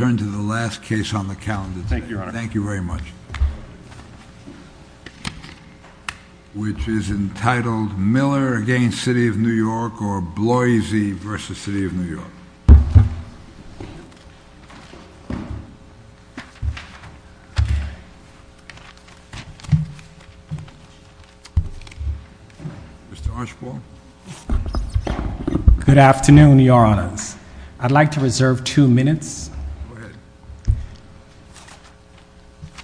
I turn to the last case on the calendar today, which is entitled Miller v. City of New York or Bloise v. City of New York. Mr. Archibald. Good afternoon, your honors. I'd like to reserve two minutes.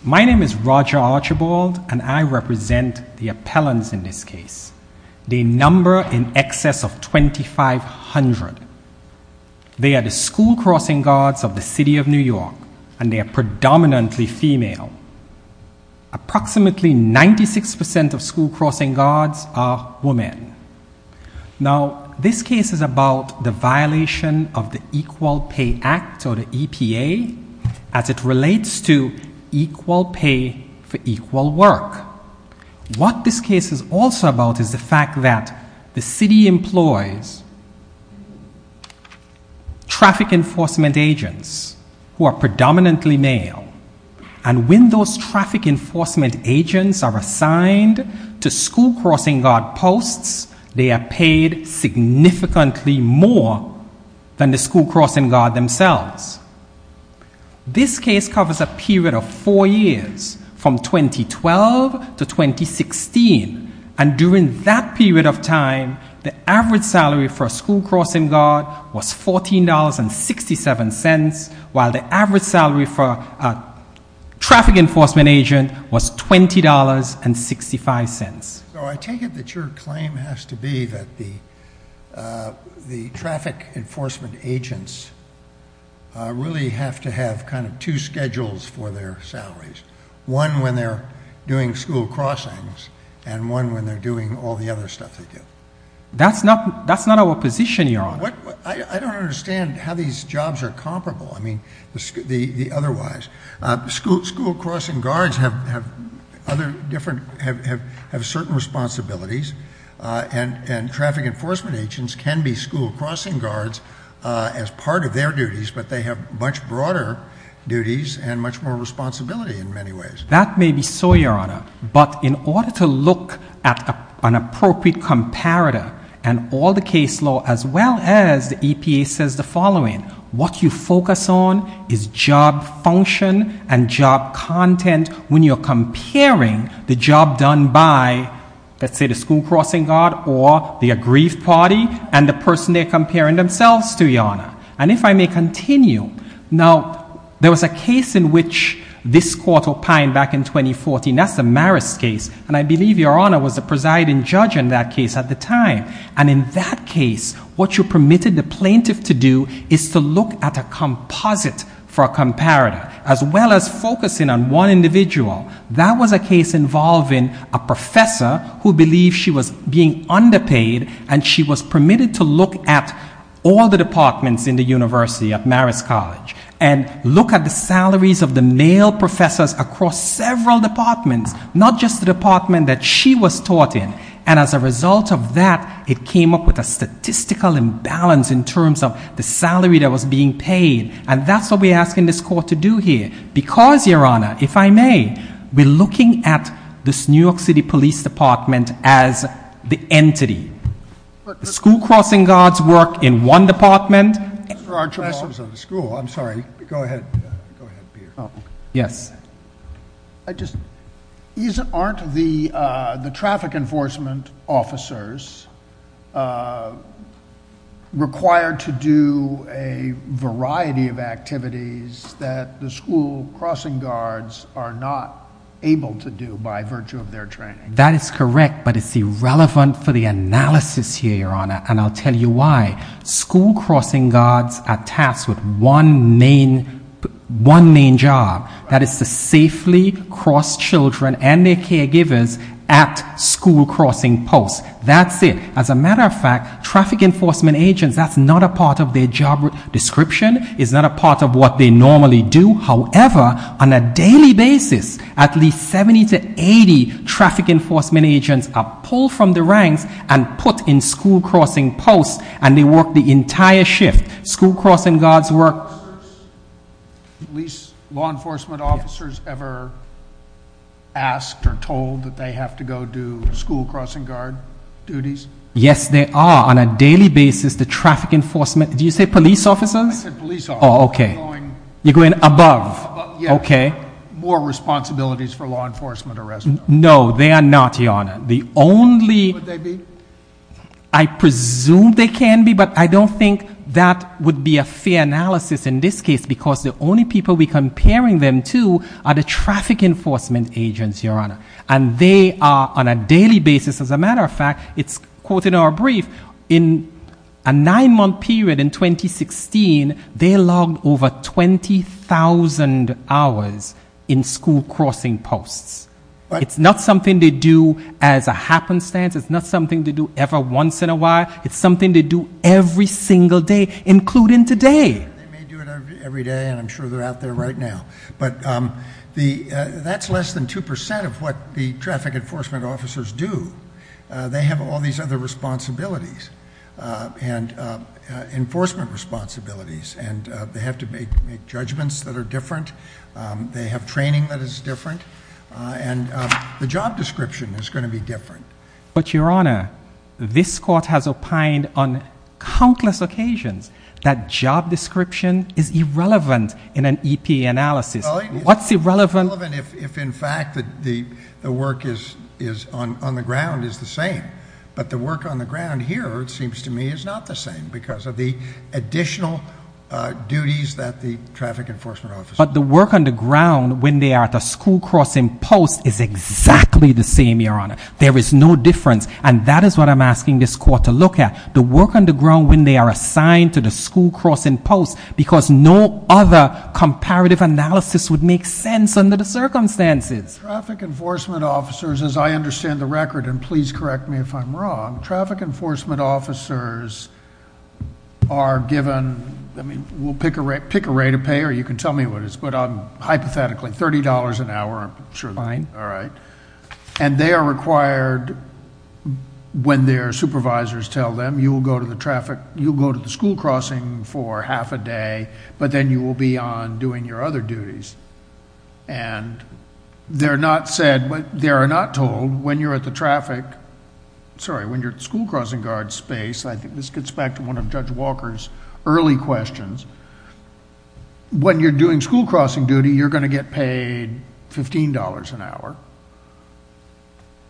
My name is Roger Archibald, and I represent the appellants in this case. They number in excess of 2,500. They are the school crossing guards of the City of New York, and they are predominantly female. Approximately 96% of school crossing guards are women. Now, this case is about the violation of the Equal Pay Act, or the EPA, as it relates to equal pay for equal work. What this case is also about is the fact that the city employs traffic enforcement agents who are predominantly male. And when those traffic enforcement agents are assigned to school crossing guard posts, they are paid significantly more than the school crossing guard themselves. This case covers a period of four years, from 2012 to 2016. And during that period of time, the average salary for a school crossing guard was $14.67, while the average salary for a traffic enforcement agent was $20.65. So I take it that your claim has to be that the traffic enforcement agents really have to have kind of two schedules for their salaries. One when they're doing school crossings, and one when they're doing all the other stuff they do. That's not our position, your honor. I don't understand how these jobs are comparable, I mean, the otherwise. School crossing guards have certain responsibilities, and traffic enforcement agents can be school crossing guards as part of their duties, but they have much broader duties and much more responsibility in many ways. That may be so, your honor. But in order to look at an appropriate comparator and all the case law, as well as the EPA says the following, what you focus on is job function and job content when you're comparing the job done by, let's say, the school crossing guard or the aggrieved party and the person they're comparing themselves to, your honor. And if I may continue, now, there was a case in which this court opined back in 2014. That's the Marist case, and I believe your honor was the presiding judge in that case at the time. And in that case, what you permitted the plaintiff to do is to look at a composite for a comparator, as well as focusing on one individual. That was a case involving a professor who believed she was being underpaid, and she was permitted to look at all the departments in the University of Marist College and look at the salaries of the male professors across several departments, not just the department that she was taught in. And as a result of that, it came up with a statistical imbalance in terms of the salary that was being paid. And that's what we're asking this court to do here because, your honor, if I may, we're looking at this New York City Police Department as the entity. The school crossing guards work in one department. Mr. Archibald. Professors of the school. I'm sorry. Go ahead. Go ahead, Peter. Yes. Aren't the traffic enforcement officers required to do a variety of activities that the school crossing guards are not able to do by virtue of their training? That is correct, but it's irrelevant for the analysis here, your honor, and I'll tell you why. School crossing guards are tasked with one main job. That is to safely cross children and their caregivers at school crossing posts. That's it. As a matter of fact, traffic enforcement agents, that's not a part of their job description. It's not a part of what they normally do. However, on a daily basis, at least 70 to 80 traffic enforcement agents are pulled from the ranks and put in school crossing posts, and they work the entire shift. School crossing guards work. Law enforcement officers ever asked or told that they have to go do school crossing guard duties? Yes, they are. On a daily basis, the traffic enforcement, did you say police officers? I said police officers. Oh, okay. You're going above. Okay. More responsibilities for law enforcement arrest. No, they are not, your honor. Would they be? I presume they can be, but I don't think that would be a fair analysis in this case because the only people we're comparing them to are the traffic enforcement agents, your honor, and they are on a daily basis. As a matter of fact, it's quoted in our brief. In a nine-month period in 2016, they logged over 20,000 hours in school crossing posts. It's not something they do as a happenstance. It's not something they do every once in a while. It's something they do every single day, including today. They may do it every day, and I'm sure they're out there right now. But that's less than 2% of what the traffic enforcement officers do. They have all these other responsibilities and enforcement responsibilities, and they have to make judgments that are different. They have training that is different, and the job description is going to be different. But, your honor, this court has opined on countless occasions that job description is irrelevant in an EPA analysis. What's irrelevant? It's irrelevant if, in fact, the work on the ground is the same. But the work on the ground here, it seems to me, is not the same because of the additional duties that the traffic enforcement officers have. But the work on the ground when they are at a school crossing post is exactly the same, your honor. There is no difference, and that is what I'm asking this court to look at. The work on the ground when they are assigned to the school crossing post because no other comparative analysis would make sense under the circumstances. Traffic enforcement officers, as I understand the record, and please correct me if I'm wrong, traffic enforcement officers are given, I mean, we'll pick a rate of pay or you can tell me what it is, but hypothetically, $30 an hour. Sure. Fine. All right. They are required, when their supervisors tell them, you'll go to the school crossing for half a day, but then you will be on doing your other duties. They're not said, they are not told, when you're at the traffic... sorry, when you're at the school crossing guard space, I think this gets back to one of Judge Walker's early questions, when you're doing school crossing duty, you're going to get paid $15 an hour,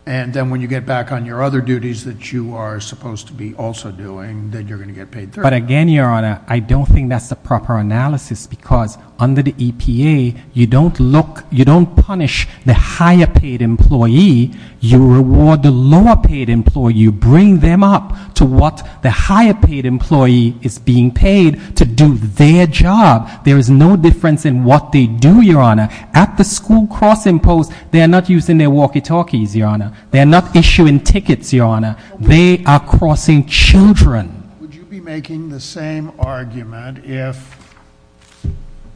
and then when you get back on your other duties that you are supposed to be also doing, then you're going to get paid $30. But again, your honor, I don't think that's the proper analysis because under the EPA, you don't look, you don't punish the higher paid employee, you reward the lower paid employee, you bring them up to what the higher paid employee is being paid to do their job. There is no difference in what they do, your honor. At the school crossing post, they are not using their walkie-talkies, your honor. They are not issuing tickets, your honor. They are crossing children. Would you be making the same argument if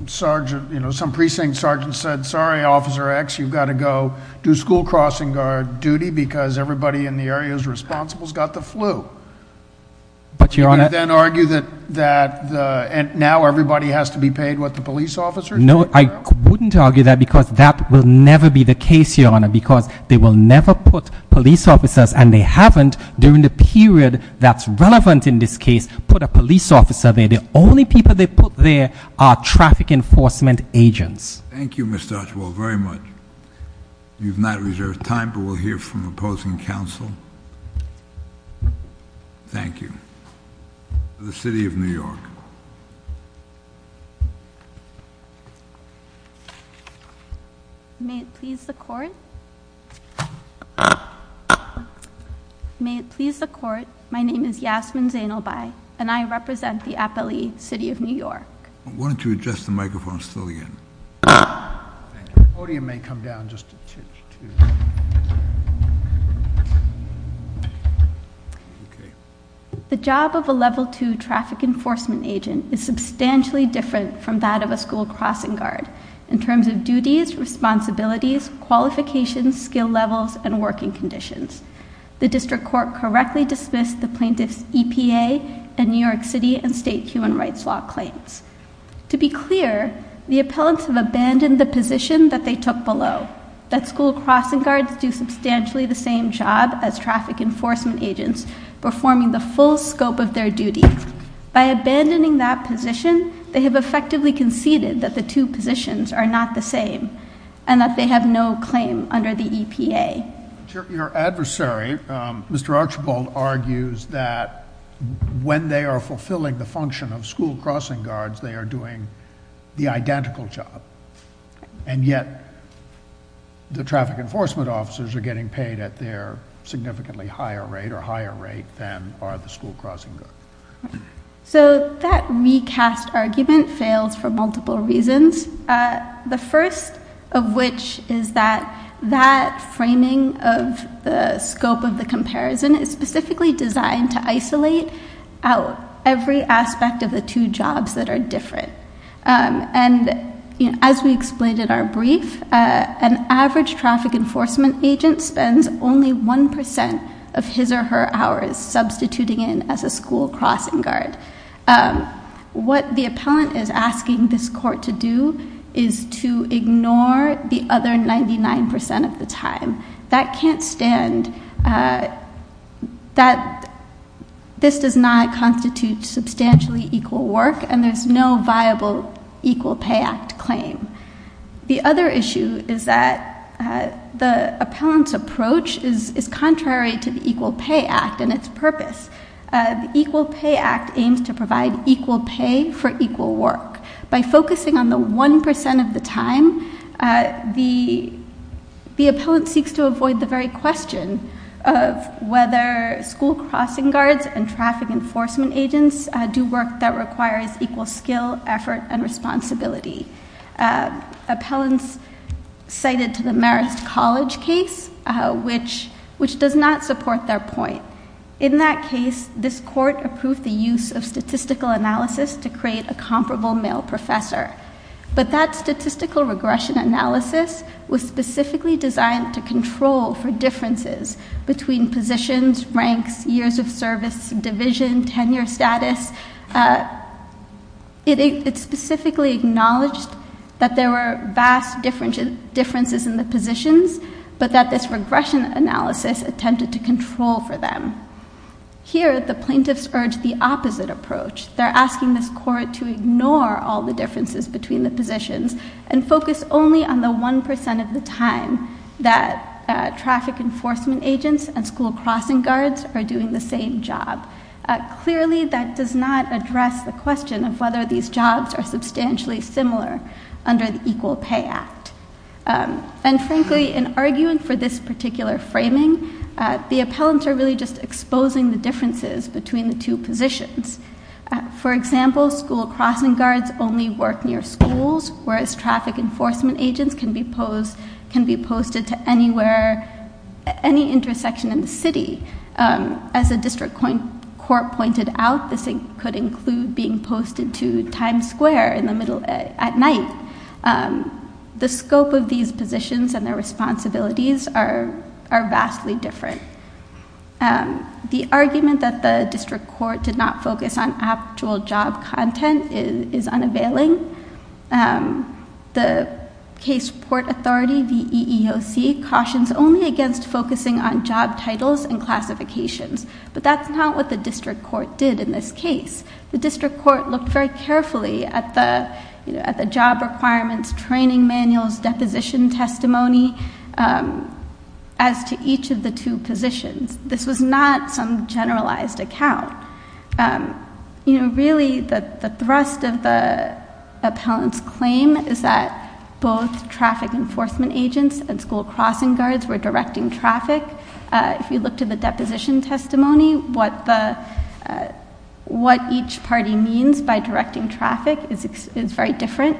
some precinct sergeant said, sorry, Officer X, you've got to go do school crossing guard duty because everybody in the area is responsible has got the flu? But your honor— Would you then argue that now everybody has to be paid what the police officers do? No, I wouldn't argue that because that will never be the case, your honor, because they will never put police officers, and they haven't, during the period that's relevant in this case, put a police officer there. The only people they put there are traffic enforcement agents. Thank you, Mr. Archibald, very much. You've not reserved time, but we'll hear from opposing counsel. Thank you. The City of New York. May it please the Court. May it please the Court. My name is Yasmin Zainalbai, and I represent the Appalachee City of New York. Why don't you adjust the microphone still again? The podium may come down just a touch, too. The job of a Level II traffic enforcement agent is substantially different from that of a school crossing guard in terms of duties, responsibilities, qualifications, skill levels, and working conditions. The District Court correctly dismissed the plaintiff's EPA and New York City and state human rights law claims. To be clear, the appellants have abandoned the position that they took below, that school crossing guards do substantially the same job as traffic enforcement agents performing the full scope of their duty. By abandoning that position, they have effectively conceded that the two positions are not the same and that they have no claim under the EPA. Your adversary, Mr. Archibald, argues that when they are fulfilling the function of school crossing guards, they are doing the identical job, and yet the traffic enforcement officers are getting paid at their significantly higher rate or higher rate than are the school crossing guards. So that recast argument fails for multiple reasons, the first of which is that that framing of the scope of the comparison is specifically designed to isolate out every aspect of the two jobs that are different. And as we explained in our brief, an average traffic enforcement agent spends only 1% of his or her hours substituting in as a school crossing guard. What the appellant is asking this court to do is to ignore the other 99% of the time. That can't stand. This does not constitute substantially equal work, and there's no viable Equal Pay Act claim. The other issue is that the appellant's approach is contrary to the Equal Pay Act and its purpose. The Equal Pay Act aims to provide equal pay for equal work. By focusing on the 1% of the time, the appellant seeks to avoid the very question of whether school crossing guards and traffic enforcement agents do work that requires equal skill, effort, and responsibility. Appellants cited to the Marist College case, which does not support their point. In that case, this court approved the use of statistical analysis to create a comparable male professor. But that statistical regression analysis was specifically designed to control for differences between positions, ranks, years of service, division, tenure status. It specifically acknowledged that there were vast differences in the positions, but that this regression analysis attempted to control for them. Here, the plaintiffs urged the opposite approach. They're asking this court to ignore all the differences between the positions and focus only on the 1% of the time that traffic enforcement agents and school crossing guards are doing the same job. Clearly, that does not address the question of whether these jobs are substantially similar under the Equal Pay Act. And frankly, in arguing for this particular framing, the appellants are really just exposing the differences between the two positions. For example, school crossing guards only work near schools, whereas traffic enforcement agents can be posted to any intersection in the city. As the district court pointed out, this could include being posted to Times Square at night. The scope of these positions and their responsibilities are vastly different. The argument that the district court did not focus on actual job content is unavailing. The case report authority, the EEOC, cautions only against focusing on job titles and classifications, but that's not what the district court did in this case. The district court looked very carefully at the job requirements, training manuals, deposition testimony as to each of the two positions. This was not some generalized account. Really, the thrust of the appellant's claim is that both traffic enforcement agents and school crossing guards were directing traffic. If you look to the deposition testimony, what each party means by directing traffic is very different.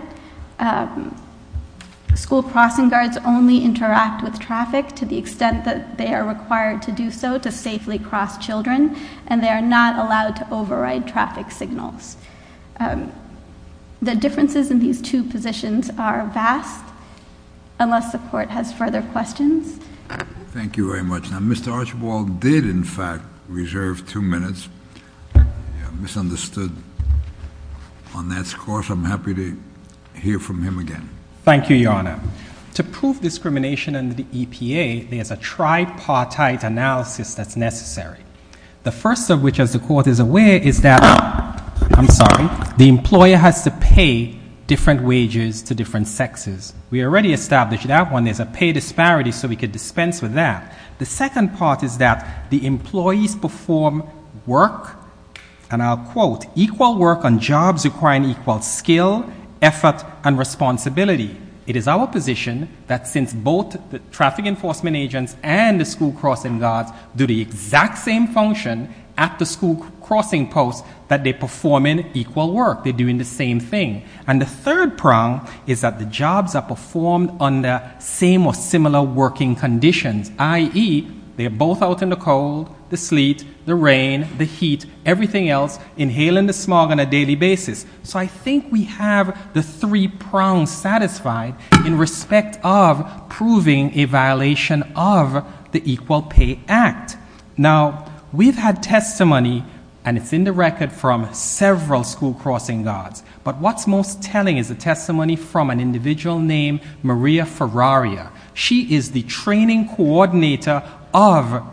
School crossing guards only interact with traffic to the extent that they are required to do so to safely cross children, and they are not allowed to override traffic signals. The differences in these two positions are vast, unless the court has further questions. Thank you very much. Now, Mr. Archibald did, in fact, reserve two minutes. I misunderstood on that. Of course, I'm happy to hear from him again. Thank you, Your Honor. To prove discrimination under the EPA, there's a tripartite analysis that's necessary, the first of which, as the court is aware, is that the employer has to pay different wages to different sexes. We already established that one. There's a pay disparity, so we could dispense with that. The second part is that the employees perform work, and I'll quote, equal work on jobs requiring equal skill, effort, and responsibility. It is our position that since both the traffic enforcement agents and the school crossing guards do the exact same function at the school crossing posts, that they perform equal work. They're doing the same thing. And the third prong is that the jobs are performed under same or similar working conditions, i.e., they're both out in the cold, the sleet, the rain, the heat, everything else, inhaling the smog on a daily basis. So I think we have the three prongs satisfied in respect of proving a violation of the Equal Pay Act. Now, we've had testimony, and it's in the record from several school crossing guards, but what's most telling is the testimony from an individual named Maria Ferraria. She is the training coordinator of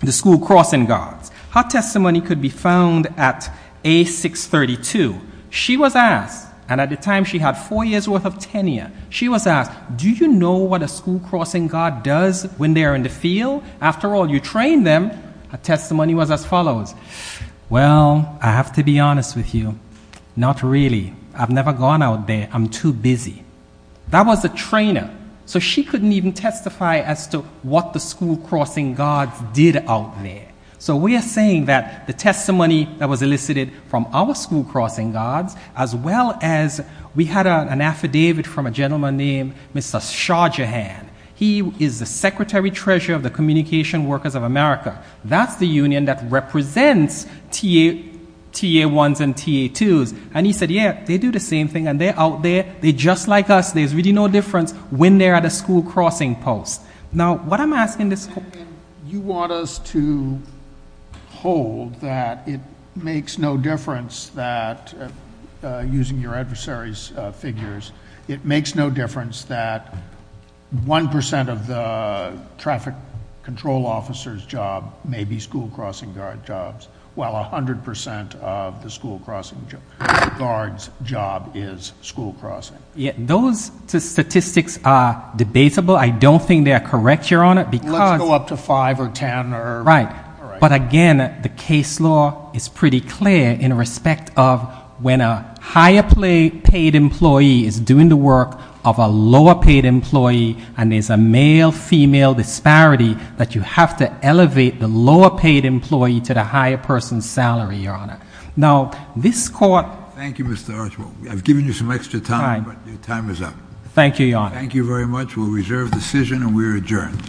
the school crossing guards. Her testimony could be found at A632. She was asked, and at the time she had four years' worth of tenure, she was asked, do you know what a school crossing guard does when they are in the field? After all, you train them. Her testimony was as follows. Well, I have to be honest with you, not really. I've never gone out there. I'm too busy. That was a trainer. So she couldn't even testify as to what the school crossing guards did out there. So we are saying that the testimony that was elicited from our school crossing guards, as well as we had an affidavit from a gentleman named Mr. Shah Jahan. He is the secretary-treasurer of the Communication Workers of America. That's the union that represents TA-1s and TA-2s. And he said, yeah, they do the same thing, and they're out there. They're just like us. There's really no difference when they're at a school crossing post. Now, what I'm asking the school— You want us to hold that it makes no difference that, using your adversaries' figures, it makes no difference that 1% of the traffic control officer's job may be school crossing guard jobs, while 100% of the school crossing guard's job is school crossing. Those statistics are debatable. I don't think they are correct, Your Honor, because— Let's go up to 5 or 10 or— of a lower-paid employee, and there's a male-female disparity that you have to elevate the lower-paid employee to the higher person's salary, Your Honor. Now, this court— Thank you, Mr. Archibald. I've given you some extra time, but your time is up. Thank you, Your Honor. Thank you very much. We'll reserve the decision, and we are adjourned.